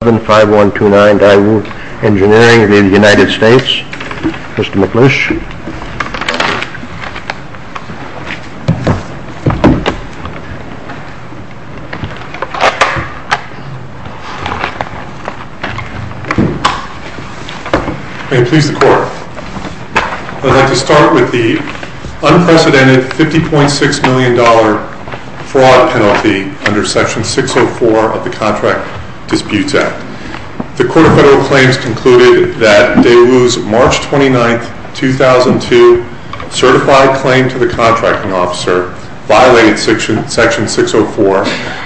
I would like to start with the unprecedented $50.6 million fraud penalty under section 604 of the Contract Disputes Act. The Court of Federal Claims concluded that Deawoo's March 29, 2002, certified claim to the contracting officer violated section 604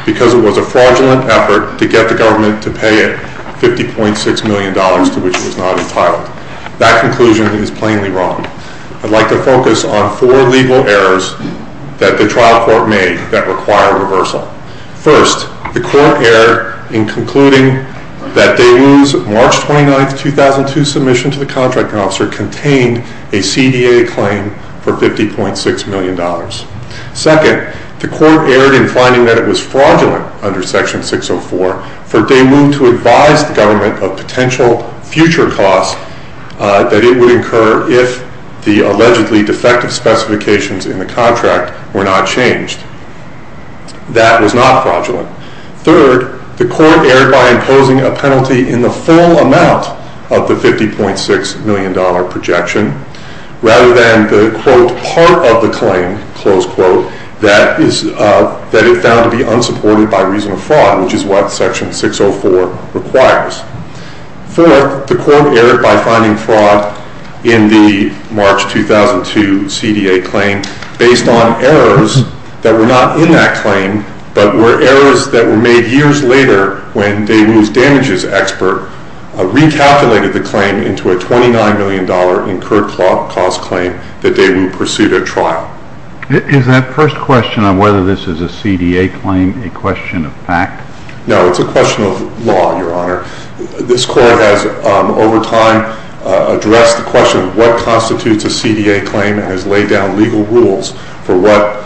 because it was a fraudulent effort to get the government to pay it $50.6 million to which it was not entitled. That conclusion is plainly wrong. I'd like to focus on four legal errors that the trial court made that required reversal. First, the court erred in concluding that Deawoo's March 29, 2002, submission to the contracting officer contained a CDA claim for $50.6 million. Second, the court erred in finding that it was fraudulent under section 604 for Deawoo to advise the government of potential future costs that it would incur if the allegedly defective specifications in the contract were not changed. That was not fraudulent. Third, the court erred by imposing a penalty in the full amount of the $50.6 million projection rather than the quote, part of the claim, close quote, that it found to be unsupported by reason of fraud, which is what section 604 requires. Fourth, the court erred by finding fraud in the March 2002 CDA claim based on errors that were not in that claim but were errors that were made years later when Deawoo's damages expert recalculated the claim into a $29 million incurred cost claim that Deawoo pursued at trial. Is that first question on whether this is a CDA claim a question of fact? No, it's a question of law, Your Honor. This court has, over time, addressed the question of what constitutes a CDA claim and has laid down legal rules for what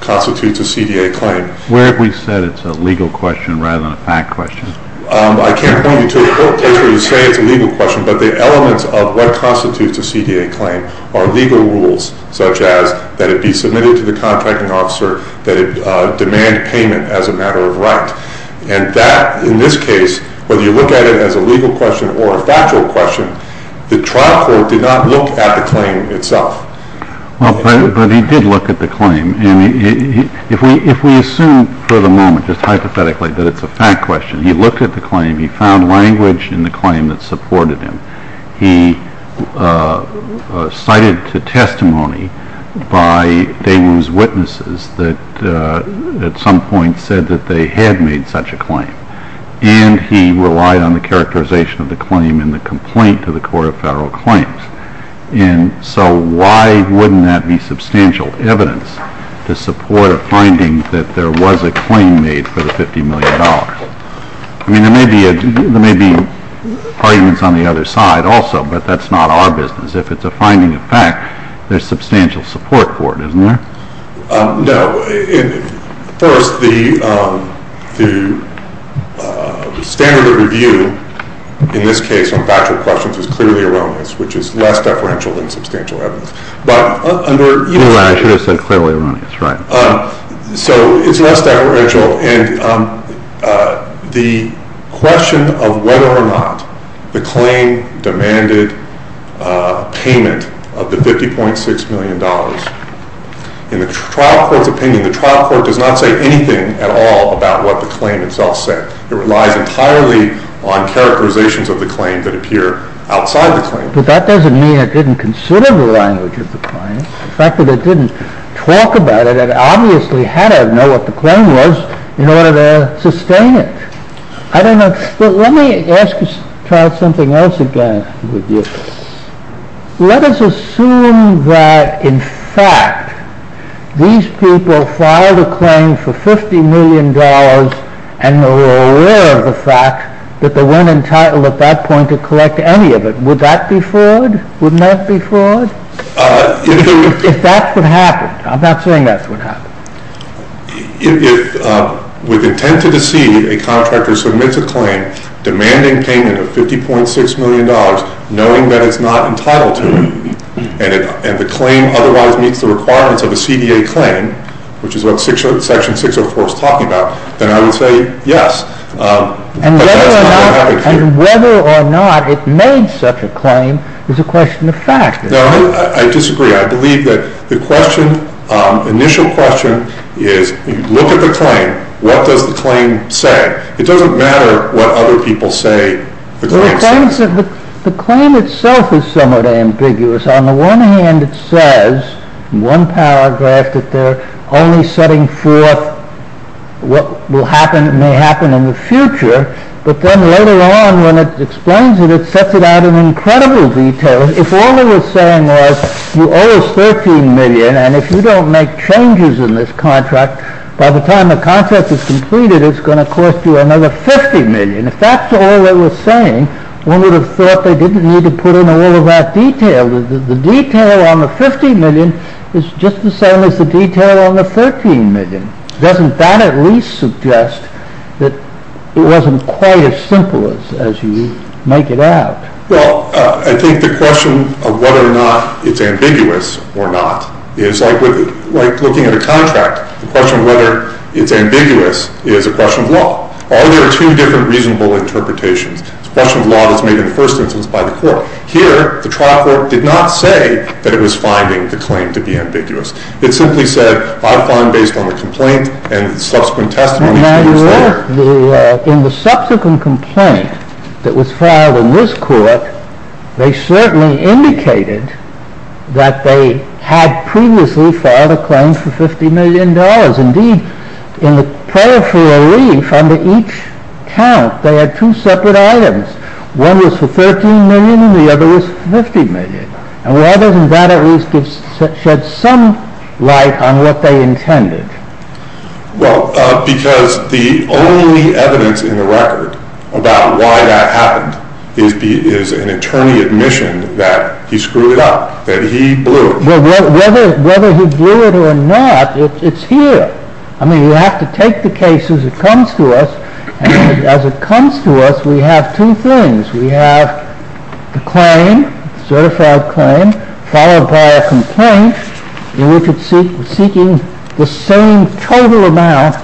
constitutes a CDA claim. Where have we said it's a legal question rather than a fact question? I can't point you to a court case where you say it's a legal question, but the elements of what constitutes a CDA claim are legal rules such as that it be submitted to the contracting officer, that it demand payment as a matter of right. And that, in this case, whether you look at it as a legal question or a factual question, the trial court did not look at the claim itself. But he did look at the claim, and if we assume for the moment, just hypothetically, that it's a fact question, he looked at the claim, he found language in the claim that supported him. He cited to testimony by Deawoo's witnesses that at some point said that they had made such a claim, and he relied on the characterization of the claim in the complaint to the Court of Federal Claims. And so why wouldn't that be substantial evidence to support a finding that there was a claim made for the $50 million? I mean, there may be arguments on the other side also, but that's not our business. If it's a finding of fact, there's substantial support for it, isn't there? No. First, the standard of review in this case on factual questions is clearly erroneous, which is less deferential than substantial evidence. But under- I should have said clearly erroneous, right. So it's less deferential, and the question of whether or not the claim demanded payment of the $50.6 million, in the trial court's opinion, the trial court does not say anything at all about what the claim itself said. It relies entirely on characterizations of the claim that appear outside the claim. But that doesn't mean it didn't consider the language of the claim. The fact that it didn't talk about it, it obviously had to know what the claim was in order to sustain it. I don't know. Let me ask you, Charles, something else again with you. Let us assume that, in fact, these people filed a claim for $50 million and were aware of the fact that they weren't entitled at that point to collect any of it. Would that be fraud? Would not be fraud? If that's what happened. I'm not saying that's what happened. If, with intent to deceive, a contractor submits a claim demanding payment of $50.6 million, knowing that it's not entitled to it, and the claim otherwise meets the requirements of a CDA claim, which is what Section 604 is talking about, then I would say yes. But that's not what happened here. And whether or not it made such a claim is a question of fact. No, I disagree. I believe that the question, initial question, is look at the claim. What does the claim say? It doesn't matter what other people say the claim says. The claim itself is somewhat ambiguous. On the one hand, it says in one paragraph that they're only setting forth what may happen in the future. But then later on, when it explains it, it sets it out in incredible detail. If all they were saying was you owe us $13 million, and if you don't make changes in this contract, by the time the contract is completed, it's going to cost you another $50 million. If that's all they were saying, one would have thought they didn't need to put in all of that detail. The detail on the $50 million is just the same as the detail on the $13 million. Doesn't that at least suggest that it wasn't quite as simple as you make it out? Well, I think the question of whether or not it's ambiguous or not is like looking at a contract. The question of whether it's ambiguous is a question of law. Are there two different reasonable interpretations? It's a question of law that's made in the first instance by the court. Here, the trial court did not say that it was finding the claim to be ambiguous. It simply said, I find based on the complaint and subsequent testimony that it's there. In the subsequent complaint that was filed in this court, they certainly indicated that they had previously filed a claim for $50 million. Indeed, in the prior free relief, under each count, they had two separate items. One was for $13 million and the other was for $50 million. Why doesn't that at least shed some light on what they intended? Well, because the only evidence in the record about why that happened is an attorney's admission that he screwed it up, that he blew it. Well, whether he blew it or not, it's here. I mean, you have to take the case as it comes to us, and as it comes to us, we have two things. We have the claim, certified claim, followed by a complaint in which it's seeking the same total amount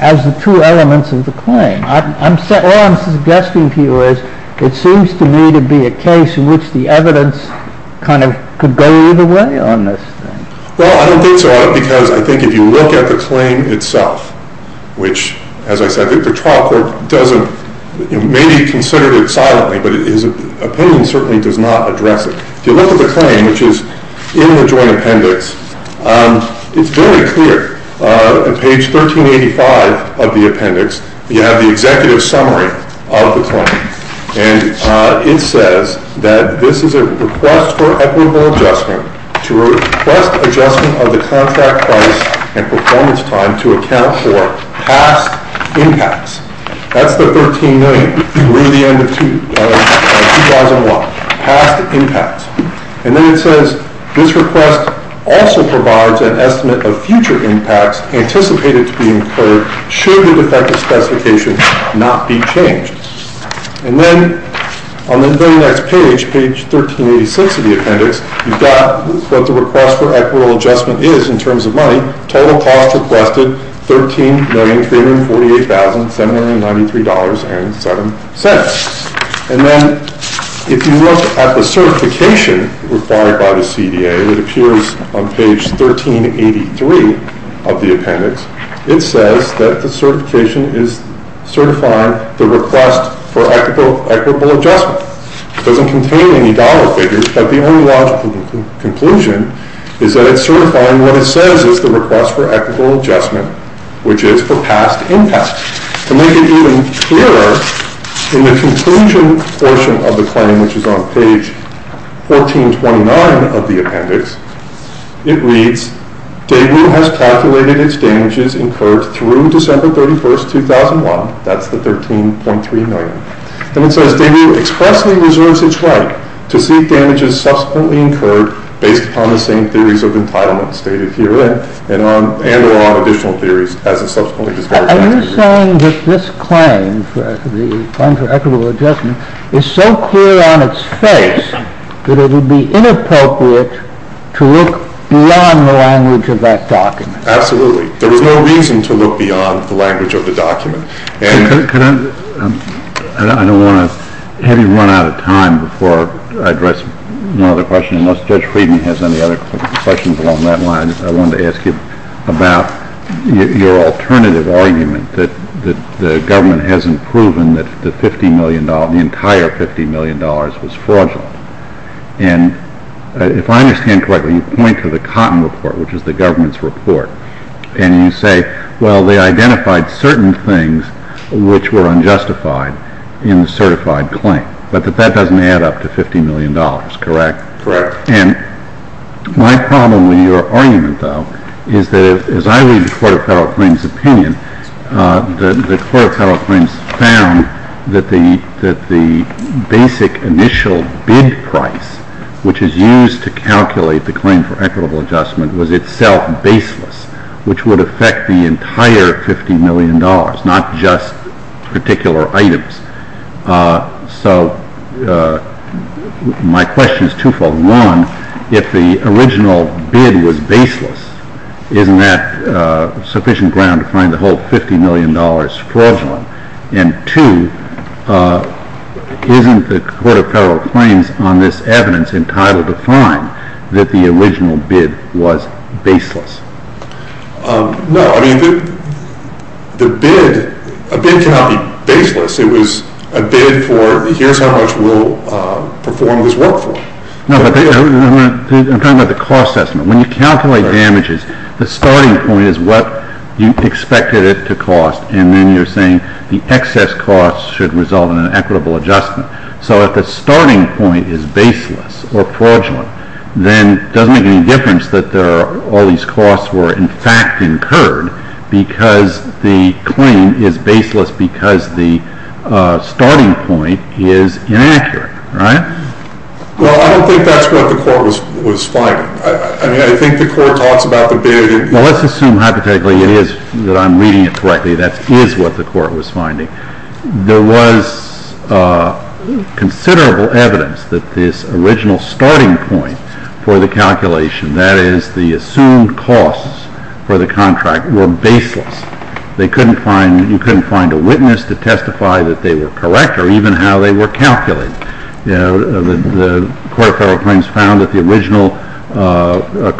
as the two elements of the claim. All I'm suggesting to you is it seems to me to be a case in which the evidence kind of could go either way on this thing. Well, I don't think so, because I think if you look at the claim itself, which, as I said, the trial court may be considering it silently, but his opinion certainly does not address it. If you look at the claim, which is in the joint appendix, it's very clear. On page 1385 of the appendix, you have the executive summary of the claim. And it says that this is a request for equitable adjustment to request adjustment of the contract price and performance time to account for past impacts. That's the $13 million through the end of 2001, past impacts. And then it says this request also provides an estimate of future impacts anticipated to be incurred should the defective specification not be changed. And then on the very next page, page 1386 of the appendix, you've got what the request for equitable adjustment is in terms of money. Total cost requested, $13,348,793.07. And then if you look at the certification required by the CDA, it appears on page 1383 of the appendix. It says that the certification is certifying the request for equitable adjustment. It doesn't contain any dollar figures, but the only logical conclusion is that it's certifying what it says is the request for equitable adjustment, which is for past impacts. To make it even clearer, in the conclusion portion of the claim, which is on page 1429 of the appendix, it reads, Daegu has calculated its damages incurred through December 31, 2001. That's the $13.3 million. And it says Daegu expressly reserves its right to seek damages subsequently incurred based upon the same theories of entitlement stated herein and or on additional theories as is subsequently described. Are you saying that this claim, the claim for equitable adjustment, is so clear on its face that it would be inappropriate to look beyond the language of that document? Absolutely. There was no reason to look beyond the language of the document. I don't want to have you run out of time before I address one other question, unless Judge Friedman has any other questions along that line. I wanted to ask you about your alternative argument that the government hasn't proven that the $50 million, the entire $50 million was fraudulent. And if I understand correctly, you point to the Cotton Report, which is the government's report, and you say, well, they identified certain things which were unjustified in the certified claim, but that that doesn't add up to $50 million, correct? Correct. And my problem with your argument, though, is that as I read the Court of Federal Claims' opinion, the Court of Federal Claims found that the basic initial bid price, which is used to calculate the claim for equitable adjustment, was itself baseless, which would affect the entire $50 million, not just particular items. So my question is twofold. One, if the original bid was baseless, isn't that sufficient ground to find the whole $50 million fraudulent? And two, isn't the Court of Federal Claims on this evidence entitled to find that the original bid was baseless? No. I mean, the bid, a bid cannot be baseless. It was a bid for here's how much we'll perform this work for. No, but I'm talking about the cost estimate. When you calculate damages, the starting point is what you expected it to cost, and then you're saying the excess cost should result in an equitable adjustment. So if the starting point is baseless or fraudulent, then it doesn't make any difference that all these costs were, in fact, incurred because the claim is baseless because the starting point is inaccurate, right? Well, I don't think that's what the Court was finding. I mean, I think the Court talks about the bid. Well, let's assume hypothetically it is, that I'm reading it correctly, that is what the Court was finding. There was considerable evidence that this original starting point for the calculation, that is the assumed costs for the contract, were baseless. They couldn't find, you couldn't find a witness to testify that they were correct or even how they were calculated. You know, the Court of Federal Claims found that the original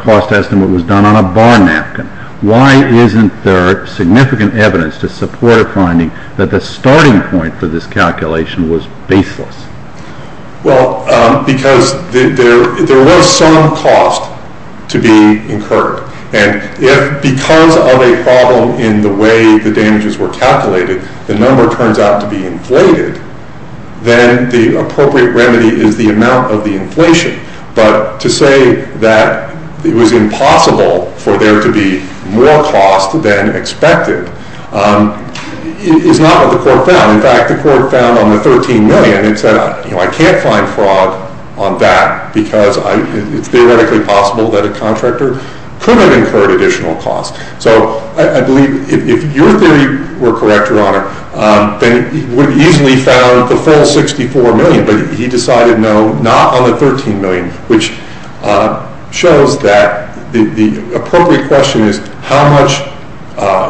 cost estimate was done on a bar napkin. Why isn't there significant evidence to support a finding that the starting point for this calculation was baseless? Well, because there was some cost to be incurred. And if, because of a problem in the way the damages were calculated, the number turns out to be inflated, then the appropriate remedy is the amount of the inflation. But to say that it was impossible for there to be more cost than expected is not what the Court found. In fact, the Court found on the $13 million and said, you know, I can't find fraud on that because it's theoretically possible that a contractor could have incurred additional cost. So I believe if your theory were correct, Your Honor, they would have easily found the full $64 million. But he decided no, not on the $13 million, which shows that the appropriate question is how much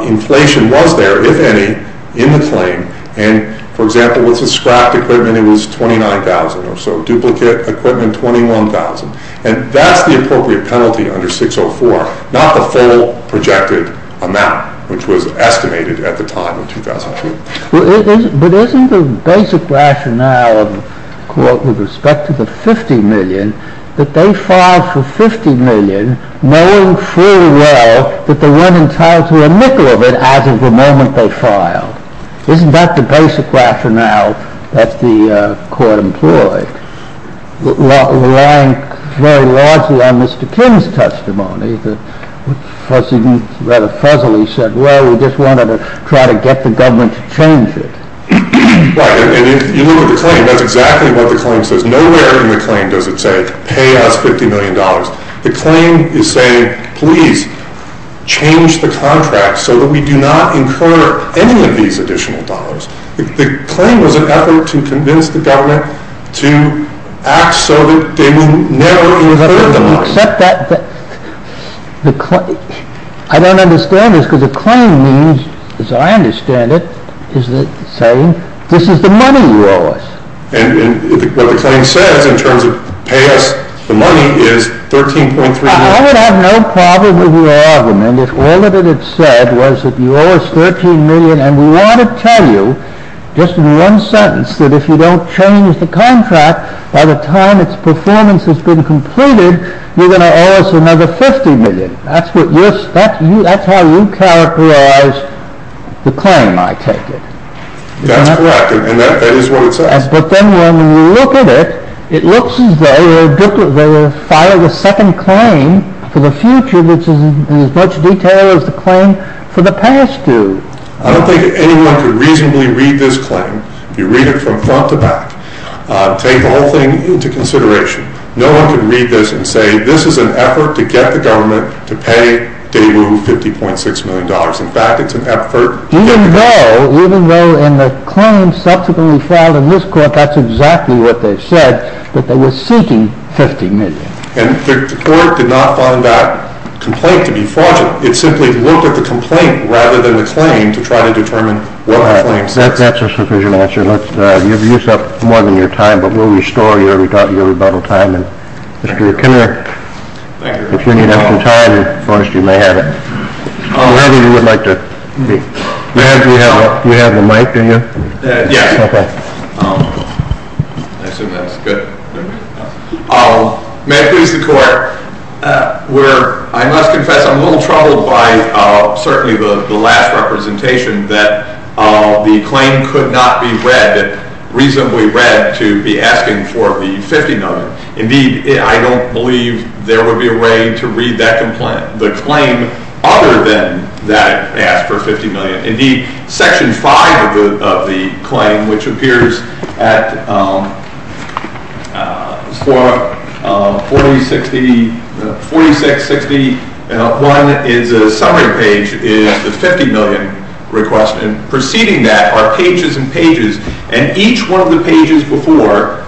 inflation was there, if any, in the claim. And, for example, with the scrapped equipment, it was $29,000 or so, duplicate equipment $21,000. And that's the appropriate penalty under 604, not the full projected amount, which was estimated at the time in 2002. But isn't the basic rationale of the Court with respect to the $50 million that they filed for $50 million knowing fully well that they weren't entitled to a nickel of it as of the moment they filed? Isn't that the basic rationale that the Court employed? I'm relying very largely on Mr. King's testimony. Because he rather fuzzily said, well, we just wanted to try to get the government to change it. Right. And if you look at the claim, that's exactly what the claim says. Nowhere in the claim does it say, pay us $50 million. The claim is saying, please change the contract so that we do not incur any of these additional dollars. The claim was an effort to convince the government to act so that they would never incur the money. Except that the claim, I don't understand this, because the claim means, as I understand it, is saying, this is the money you owe us. And what the claim says in terms of pay us the money is $13.3 million. I would have no problem with the argument if all that it had said was that you owe us $13 million. And we want to tell you, just in one sentence, that if you don't change the contract by the time its performance has been completed, you're going to owe us another $50 million. That's how you characterize the claim, I take it. That's correct. And that is what it says. But then when you look at it, it looks as though they filed a second claim for the future which is as much detail as the claim for the past due. I don't think anyone could reasonably read this claim. You read it from front to back. Take the whole thing into consideration. No one could read this and say, this is an effort to get the government to pay Daibu $50.6 million. No, even though in the claim subsequently filed in this court, that's exactly what they said, that they were seeking $50 million. And the court did not find that complaint to be fraudulent. It simply looked at the complaint rather than the claim to try to determine what the claim says. That's a sufficient answer. You've used up more than your time, but we'll restore your rebuttal time. Mr. McKenna, if you need extra time, you may have it. I'm glad that you would like to speak. You have the mic, do you? Yes. Okay. I assume that's good. May it please the court. I must confess, I'm a little troubled by certainly the last representation, that the claim could not be read, reasonably read, to be asking for the $50 million. Indeed, I don't believe there would be a way to read that complaint. The claim, other than that it asked for $50 million. Indeed, section five of the claim, which appears at 4660. One is a summary page, is the $50 million request. And preceding that are pages and pages. And each one of the pages before,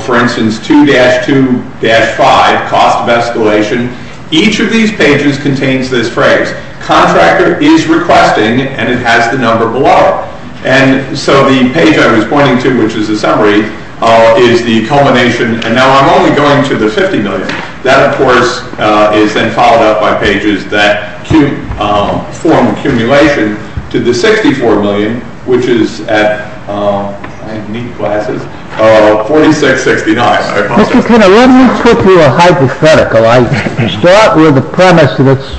for instance, 2-2-5, cost of escalation. Each of these pages contains this phrase. Contractor is requesting, and it has the number below. And so the page I was pointing to, which is a summary, is the culmination. And now I'm only going to the $50 million. That, of course, is then followed up by pages that form accumulation to the $64 million, which is at, I need glasses, 4669. Mr. Kenner, let me put you a hypothetical. I start with the premise that it's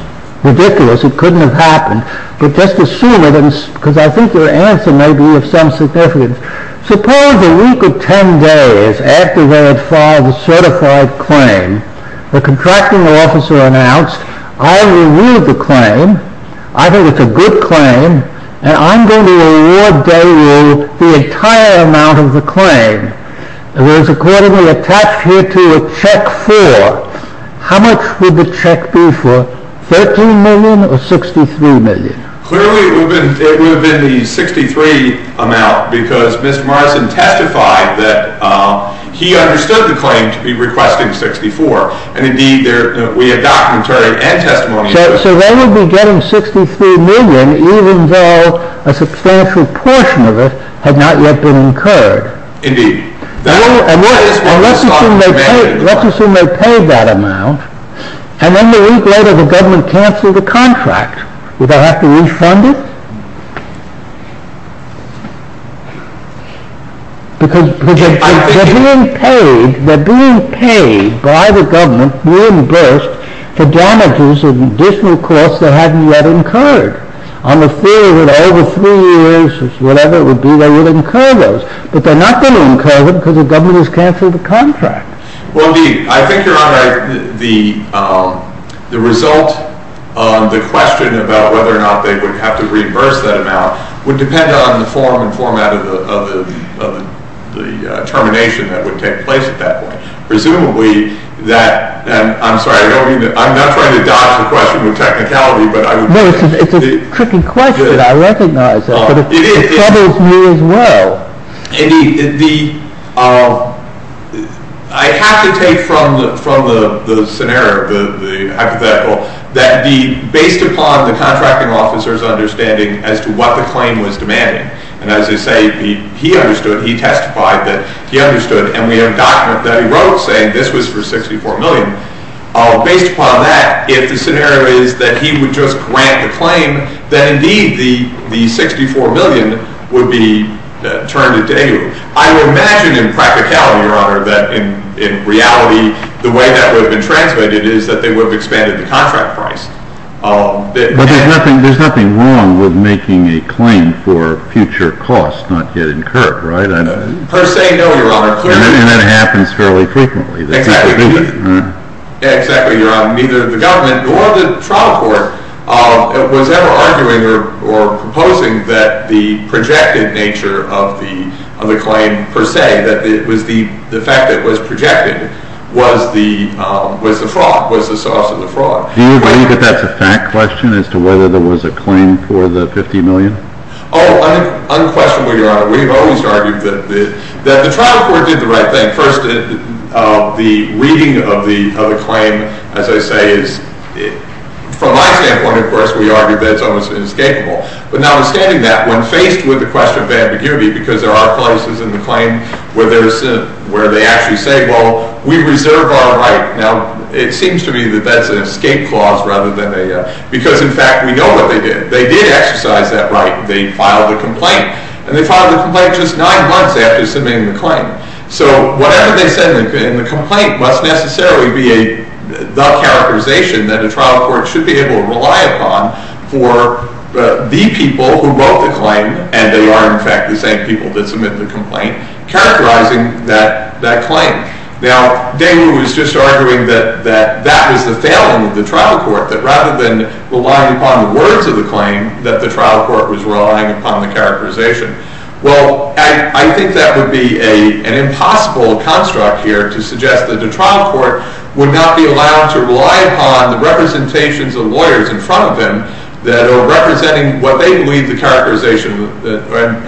ridiculous. It couldn't have happened. But just assume it, because I think your answer may be of some significance. Suppose a week or 10 days after they had filed the certified claim, the contracting officer announced, I will read the claim. I think it's a good claim. And I'm going to award day rule the entire amount of the claim. It was accordingly attached here to a check for. How much would the check be for? $13 million or $63 million? Clearly, it would have been the $63 million amount, because Mr. Morrison testified that he understood the claim to be requesting $64 million. And indeed, we have documentary and testimony. So they would be getting $63 million, even though a substantial portion of it had not yet been incurred. Indeed. And let's assume they paid that amount, and then the week later the government canceled the contract. Would they have to refund it? Because they're being paid by the government, reimbursed, for damages and additional costs that hadn't yet incurred. On the theory that over three years or whatever it would be, they would incur those. But they're not going to incur them because the government has canceled the contract. Well, indeed. I think, Your Honor, the result of the question about whether or not they would have to reimburse that amount would depend on the form and format of the termination that would take place at that point. Presumably, that, and I'm sorry, I don't mean to, I'm not trying to dodge the question with technicality, but I would. No, it's a tricky question. I recognize that. But it bothers me as well. Indeed. I have to take from the scenario, the hypothetical, that based upon the contracting officer's understanding as to what the claim was demanding. And as I say, he understood, he testified that he understood, and we have a document that he wrote saying this was for $64 million. Based upon that, if the scenario is that he would just grant the claim, then, indeed, the $64 million would be turned into a. I would imagine in practicality, Your Honor, that in reality, the way that would have been transmitted is that they would have expanded the contract price. But there's nothing wrong with making a claim for future costs not yet incurred, right? Per se, no, Your Honor. And that happens fairly frequently. Exactly. Exactly, Your Honor. Neither the government nor the trial court was ever arguing or proposing that the projected nature of the claim per se, that it was the fact that it was projected, was the fraud, was the source of the fraud. Do you believe that that's a fact question as to whether there was a claim for the $50 million? We've always argued that the trial court did the right thing. First, the reading of the claim, as I say, is, from my standpoint, of course, we argue that it's almost inescapable. But notwithstanding that, when faced with the question of ambiguity, because there are places in the claim where they actually say, well, we reserve our right. Now, it seems to me that that's an escape clause rather than a, because in fact, we know what they did. They did exercise that right. They filed a complaint. And they filed a complaint just nine months after submitting the claim. So whatever they said in the complaint must necessarily be the characterization that a trial court should be able to rely upon for the people who wrote the claim, and they are, in fact, the same people that submitted the complaint, characterizing that claim. Now, David was just arguing that that was the failing of the trial court, that rather than relying upon the words of the claim, that the trial court was relying upon the characterization. Well, I think that would be an impossible construct here to suggest that a trial court would not be allowed to rely upon the representations of lawyers in front of them that are representing what they believe the characterization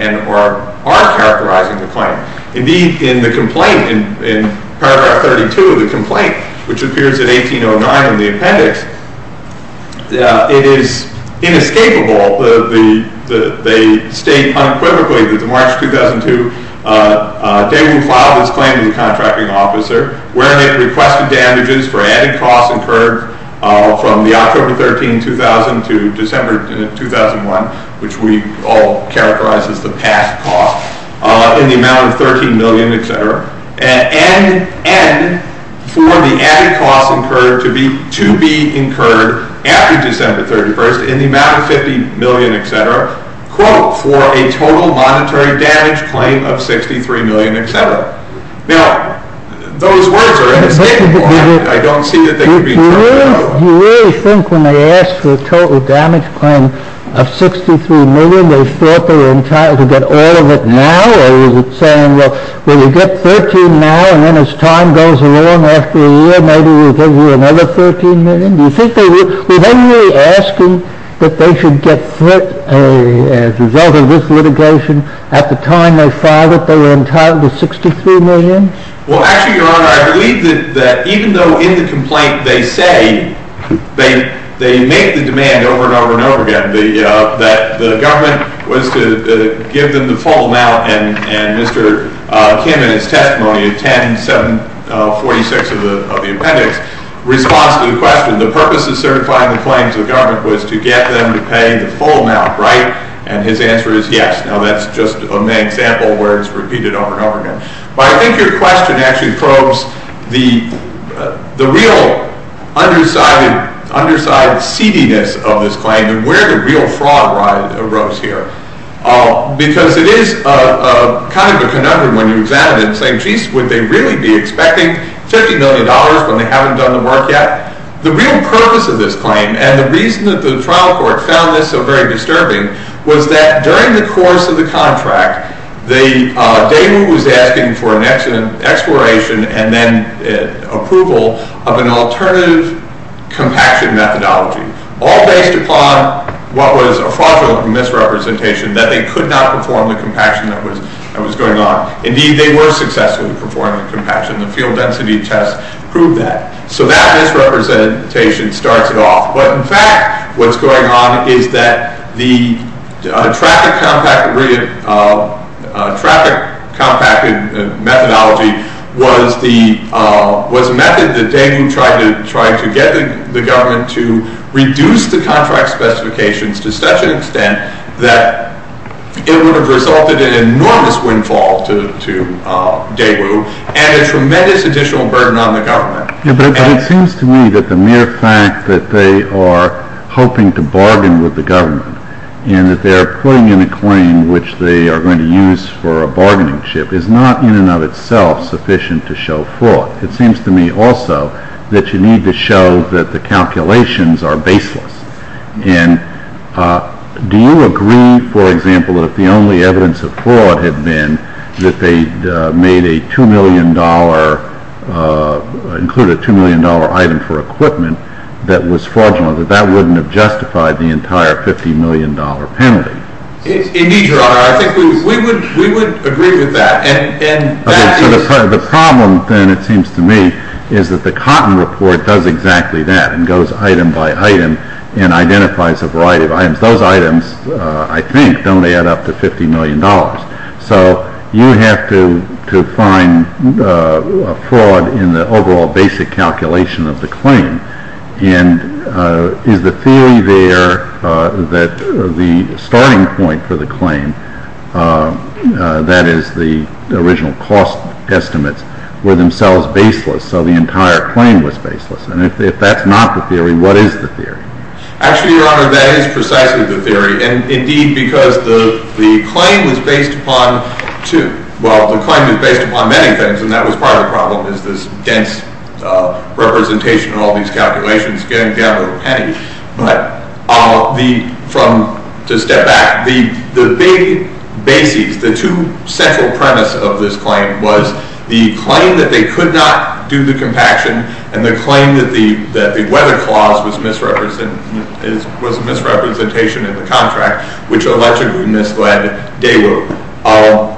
and are characterizing the claim. Indeed, in the complaint, in paragraph 32 of the complaint, which appears in 1809 in the appendix, it is inescapable. They state unequivocally that the March 2002 day we filed this claim to the contracting officer, where it requested damages for added costs incurred from the October 13, 2000 to December 2001, which we all characterize as the past cost, in the amount of $13 million, etc., and for the added costs incurred to be incurred after December 31st in the amount of $50 million, etc., quote, for a total monetary damage claim of $63 million, etc. Now, those words are inescapable. I don't see that they could be turned out. Do you really think when they asked for a total damage claim of $63 million, they thought they were entitled to get all of it now? Or is it saying, well, we'll get $13 now, and then as time goes along after a year, maybe we'll give you another $13 million? Do you think they were? Were they really asking that they should get fit as a result of this litigation? At the time they filed it, they were entitled to $63 million? Well, actually, Your Honor, I believe that even though in the complaint they say they made the demand over and over and over again, that the government was to give them the full amount, and Mr. Kim, in his testimony of 10746 of the appendix, responds to the question, the purpose of certifying the claims of the government was to get them to pay the full amount, right? And his answer is yes. Now, that's just a main example where it's repeated over and over again. But I think your question actually probes the real underside seediness of this claim and where the real fraud arose here. Because it is kind of a conundrum when you examine it, saying, would they really be expecting $50 million when they haven't done the work yet? The real purpose of this claim, and the reason that the trial court found this so very disturbing, was that during the course of the contract, Daewoo was asking for an exploration and then approval of an alternative compaction methodology, all based upon what was a fraudulent misrepresentation, that they could not perform the compaction that was going on. Indeed, they were successful in performing the compaction. The field density test proved that. So that misrepresentation starts it off. But in fact, what's going on is that the traffic compacted methodology was a method that Daewoo tried to get the government to reduce the contract specifications to such an extent that it would have resulted in enormous windfall to Daewoo and a tremendous additional burden on the government. Yeah, but it seems to me that the mere fact that they are hoping to bargain with the government and that they are putting in a claim which they are going to use for a bargaining chip is not in and of itself sufficient to show fraud. It seems to me also that you need to show that the calculations are baseless. And do you agree, for example, that the only evidence of fraud had been that they made a $2 million, included a $2 million item for equipment that was fraudulent, that that wouldn't have justified the entire $50 million penalty? Indeed, Your Honor, I think we would agree with that. The problem then, it seems to me, is that the Cotton Report does exactly that and goes item by item and identifies a variety of items. Those items, I think, don't add up to $50 million. So you have to find fraud in the overall basic calculation of the claim. And is the theory there that the starting point for the claim, that is, the original cost estimates, were themselves baseless, so the entire claim was baseless? And if that's not the theory, what is the theory? Actually, Your Honor, that is precisely the theory. And indeed, because the claim is based upon two. Well, the claim is based upon many things, and that was part of the problem, is this dense representation of all these calculations getting down to a penny. But to step back, the big bases, the two central premise of this claim, was the claim that they could not do the compaction, and the claim that the weather clause was a misrepresentation of the contract, which allegedly misled Dale.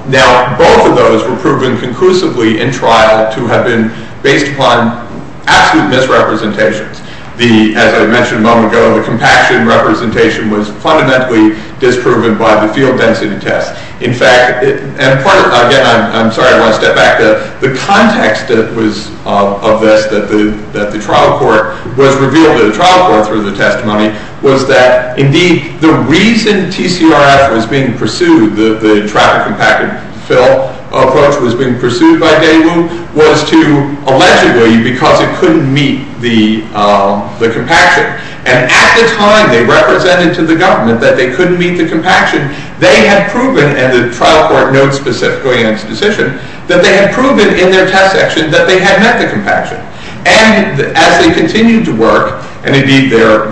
Now, both of those were proven conclusively in trial to have been based upon absolute misrepresentations. As I mentioned a moment ago, the compaction representation was fundamentally disproven by the field density test. In fact, and again, I'm sorry, I want to step back. The context of this, that the trial court was revealed to the trial court through the testimony, was that, indeed, the reason TCRF was being pursued, the trial compacted fill approach was being pursued by Dale, was to, allegedly, because it couldn't meet the compaction. And at the time, they represented to the government that they couldn't meet the compaction. They had proven, and the trial court notes specifically in its decision, that they had proven in their test section that they had met the compaction. And as they continued to work, and indeed, their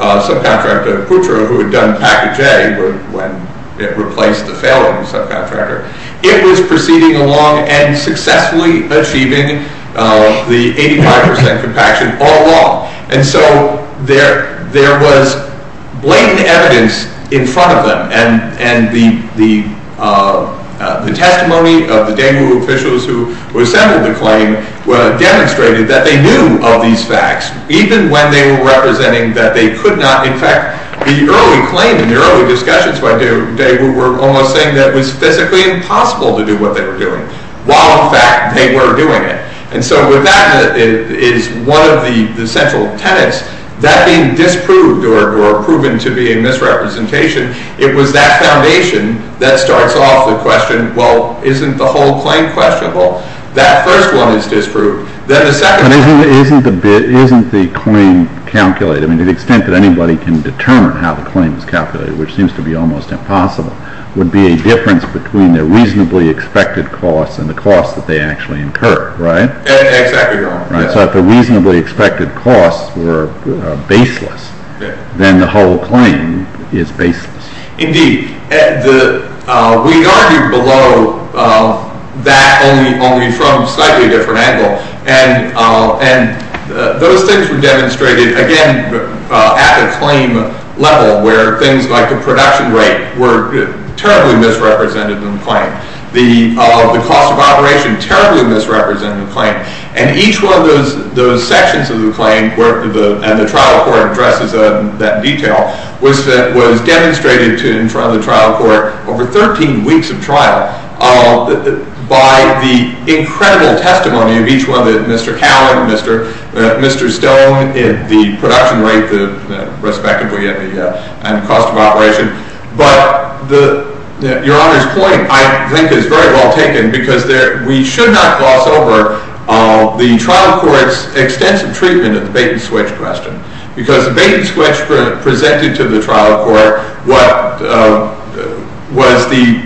subcontractor, Putra, who had done package A when it replaced the failing subcontractor, it was proceeding along and successfully achieving the 85% compaction all along. And so there was blatant evidence in front of them, and the testimony of the Daegu officials who assembled the claim, demonstrated that they knew of these facts, even when they were representing that they could not. In fact, the early claim and the early discussions by Daegu were almost saying that it was physically impossible to do what they were doing, while in fact they were doing it. And so with that is one of the central tenets. That being disproved or proven to be a misrepresentation, it was that foundation that starts off the question, well, isn't the whole claim questionable? That first one is disproved. Then the second one— But isn't the claim calculated? I mean, to the extent that anybody can determine how the claim is calculated, which seems to be almost impossible, would be a difference between their reasonably expected costs and the costs that they actually incur, right? Exactly, Your Honor. So if the reasonably expected costs were baseless, then the whole claim is baseless. Indeed. We argued below that only from a slightly different angle, and those things were demonstrated, again, at the claim level, where things like the production rate were terribly misrepresented in the claim, the cost of operation terribly misrepresented in the claim, and each one of those sections of the claim, and the trial court addresses that detail, was demonstrated in front of the trial court over 13 weeks of trial by the incredible testimony of each one, Mr. Cowan, Mr. Stone, the production rate, respectively, and the cost of operation. But Your Honor's point, I think, is very well taken because we should not gloss over the trial court's extensive treatment of the bait-and-switch question because the bait-and-switch presented to the trial court what was the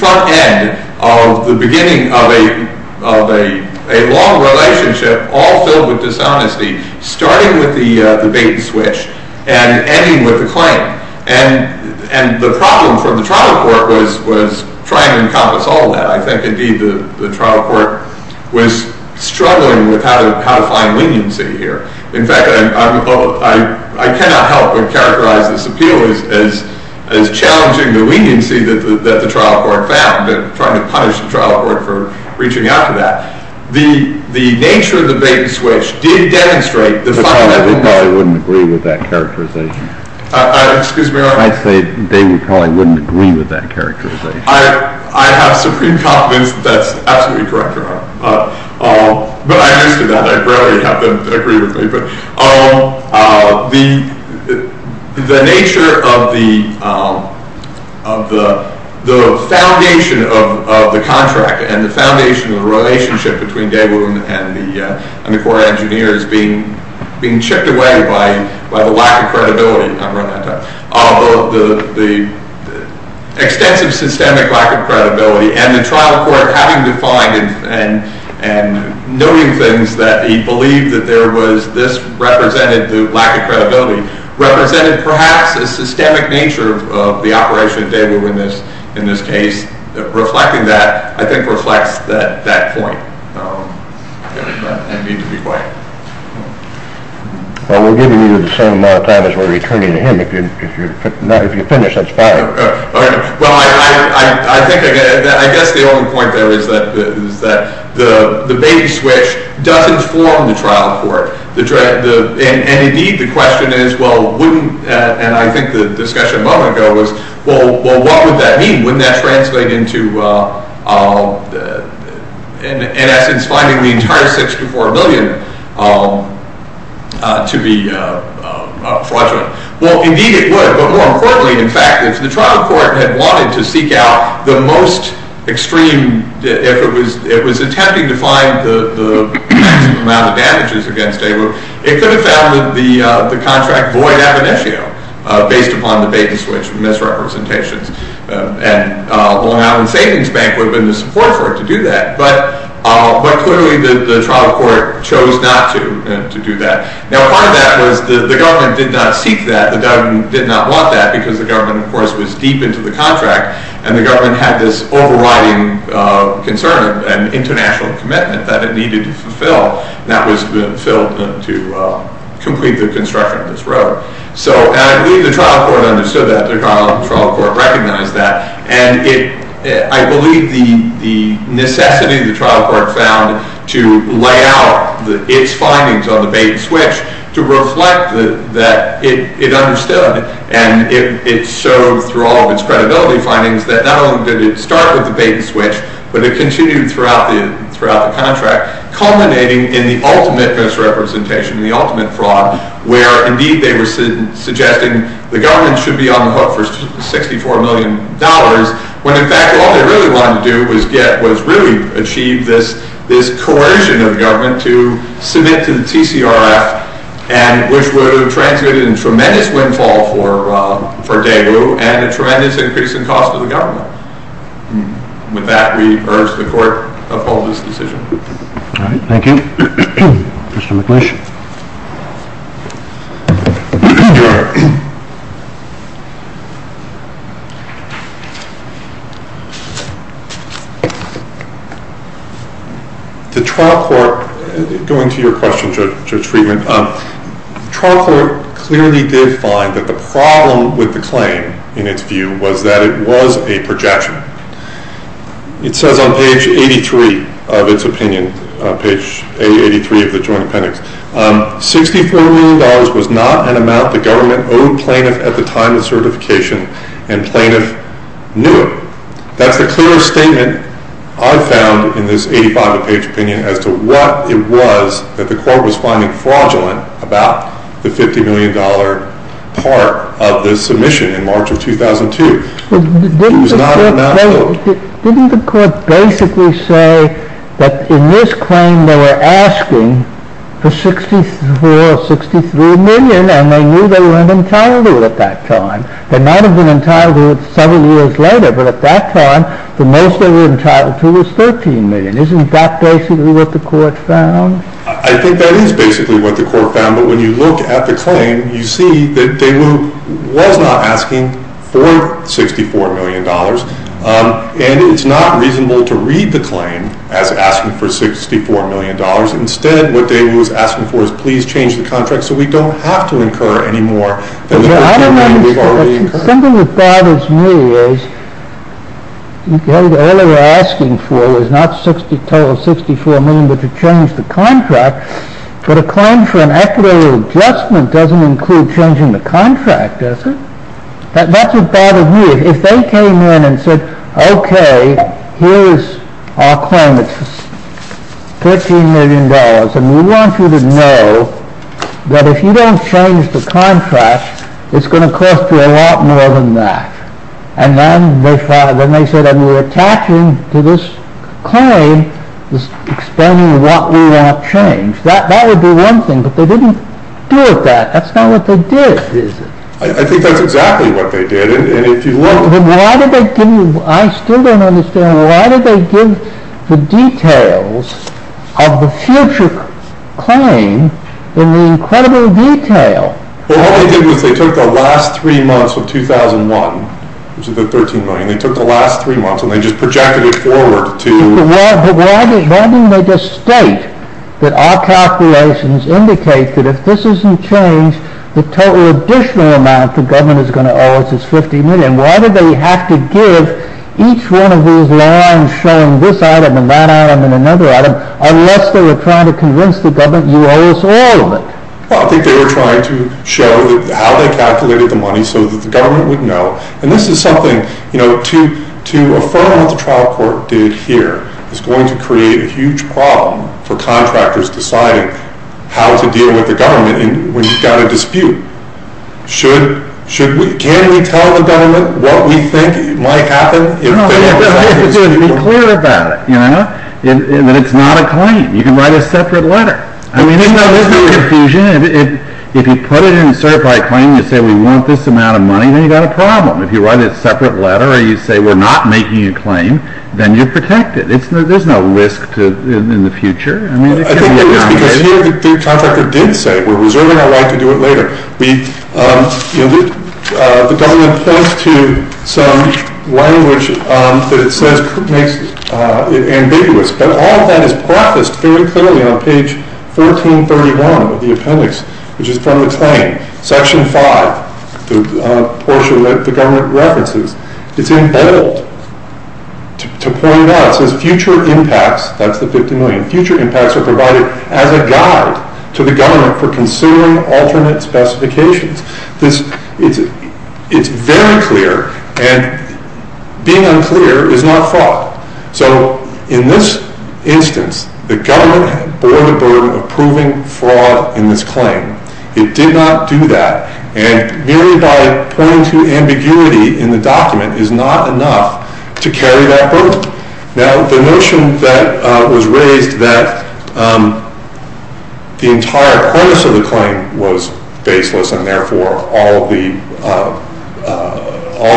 front end of the beginning of a long relationship, all filled with dishonesty, starting with the bait-and-switch and ending with the claim. And the problem for the trial court was trying to encompass all that. I think, indeed, the trial court was struggling with how to find leniency here. In fact, I cannot help but characterize this appeal as challenging the leniency that the trial court found and trying to punish the trial court for reaching out to that. The nature of the bait-and-switch did demonstrate the final evidence. I wouldn't agree with that characterization. Excuse me, Your Honor. I'd say Daewoo probably wouldn't agree with that characterization. I have supreme confidence that that's absolutely correct, Your Honor. But I'm used to that. I rarely have them agree with me. But the nature of the foundation of the contract and the foundation of the relationship between Daewoo and the court engineer is being chipped away by the lack of credibility. I've run out of time. The extensive systemic lack of credibility and the trial court having defined and noting things that he believed that this represented the lack of credibility represented perhaps a systemic nature of the operation of Daewoo in this case. Reflecting that, I think, reflects that point. I need to be quiet. Well, we're giving you the same amount of time as we're returning to him. If you finish, that's fine. Well, I guess the only point there is that the bait-and-switch doesn't form the trial court. And indeed, the question is, well, wouldn't, and I think the discussion a moment ago was, well, what would that mean? Wouldn't that translate into, in essence, finding the entire $64 million to be fraudulent? Well, indeed it would. But more importantly, in fact, if the trial court had wanted to seek out the most extreme, if it was attempting to find the maximum amount of damages against Daewoo, it could have found that the contract void ab initio based upon the bait-and-switch misrepresentations. And the Long Island Savings Bank would have been the support for it to do that. But clearly the trial court chose not to do that. Now, part of that was the government did not seek that. The government did not want that because the government, of course, was deep into the contract. And the government had this overriding concern and international commitment that it needed to fulfill. And that was filled to complete the construction of this road. And I believe the trial court understood that. The trial court recognized that. And I believe the necessity the trial court found to lay out its findings on the bait-and-switch to reflect that it understood. And it showed through all of its credibility findings that not only did it start with the bait-and-switch, but it continued throughout the contract, culminating in the ultimate misrepresentation, the ultimate fraud, where indeed they were suggesting the government should be on the hook for $64 million, when in fact all they really wanted to do was really achieve this coercion of the government to submit to the TCRF, which would have transmitted a tremendous windfall for Daegu and a tremendous increase in cost to the government. With that, we urge the court to uphold this decision. All right. Thank you. Mr. McNish. The trial court, going to your question, Judge Friedman, the trial court clearly did find that the problem with the claim, in its view, was that it was a projection. It says on page 83 of its opinion, page 83 of the joint appendix, $64 million was not an amount the government owed plaintiff at the time of certification, and plaintiff knew it. That's the clearest statement I found in this 85-page opinion as to what it was that the court was finding fraudulent about the $50 million part of the submission in March of 2002. It was not an amount owed. Didn't the court basically say that in this claim they were asking for $64 or $63 million, and they knew they were entitled to it at that time? They might have been entitled to it several years later, but at that time the most they were entitled to was $13 million. Isn't that basically what the court found? I think that is basically what the court found, but when you look at the claim, you see that Daewoo was not asking for $64 million, and it's not reasonable to read the claim as asking for $64 million. Instead, what Daewoo was asking for is, please change the contract so we don't have to incur any more than we've already incurred. Something that bothers me is, all they were asking for was not $64 million, but to change the contract but a claim for an equitable adjustment doesn't include changing the contract, does it? That's what bothers me. If they came in and said, okay, here's our claim, it's $13 million, and we want you to know that if you don't change the contract, it's going to cost you a lot more than that, and then they said, and we're attaching to this claim, explaining what we want changed. That would be one thing, but they didn't do it that. That's not what they did, is it? I think that's exactly what they did, and if you look... Then why did they give you, I still don't understand, why did they give the details of the future claim in the incredible detail? Well, what they did was they took the last three months of 2001, which is the $13 million, they took the last three months and they just projected it forward to... But why didn't they just state that our calculations indicate that if this isn't changed, the total additional amount the government is going to owe us is $50 million? Why did they have to give each one of these lines showing this item and that item and another item, unless they were trying to convince the government you owe us all of it? Well, I think they were trying to show how they calculated the money so that the government would know, and this is something, you know, to affirm what the trial court did here is going to create a huge problem for contractors deciding how to deal with the government when you've got a dispute. Can we tell the government what we think might happen? No, you have to be clear about it, you know, that it's not a claim. You can write a separate letter. I mean, there's no confusion. If you put it in a certified claim, you say we want this amount of money, then you've got a problem. If you write a separate letter or you say we're not making a claim, then you're protected. There's no risk in the future. I think it is because here the contractor did say we're reserving our right to do it later. The government points to some language that it says makes it ambiguous, but all of that is prefaced very clearly on page 1431 of the appendix, which is from the claim. Section 5, the portion that the government references, it's in bold to point out. It says future impacts, that's the $50 million, future impacts are provided as a guide to the government for considering alternate specifications. It's very clear, and being unclear is not fraught. So in this instance, the government bore the burden of proving fraud in this claim. It did not do that, and merely by pointing to ambiguity in the document is not enough to carry that burden. Now, the notion that was raised that the entire premise of the claim was baseless and therefore all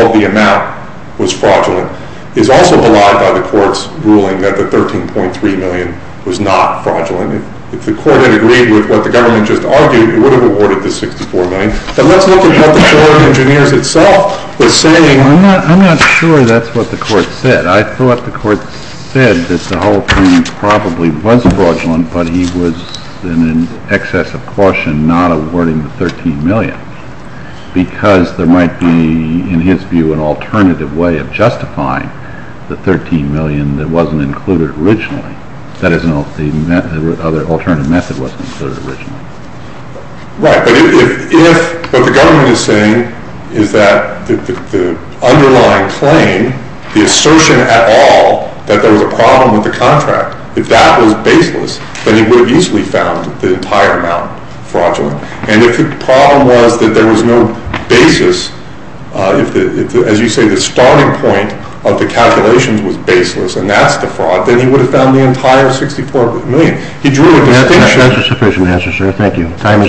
of the amount was fraudulent is also belied by the court's ruling that the $13.3 million was not fraudulent. If the court had agreed with what the government just argued, it would have awarded the $64 million. But let's look at what the Board of Engineers itself was saying. I'm not sure that's what the court said. I thought the court said that the whole thing probably was fraudulent, but he was in excess of caution not awarding the $13 million because there might be, in his view, an alternative way of justifying the $13 million that wasn't included originally. That is, an alternative method wasn't included originally. Right, but if what the government is saying is that the underlying claim, the assertion at all that there was a problem with the contract, if that was baseless, then he would have easily found the entire amount fraudulent. And if the problem was that there was no basis, if, as you say, the starting point of the calculations was baseless, and that's the fraud, then he would have found the entire $64 million. He drew a distinction. That's a sufficient answer, sir. Thank you. Time has expired.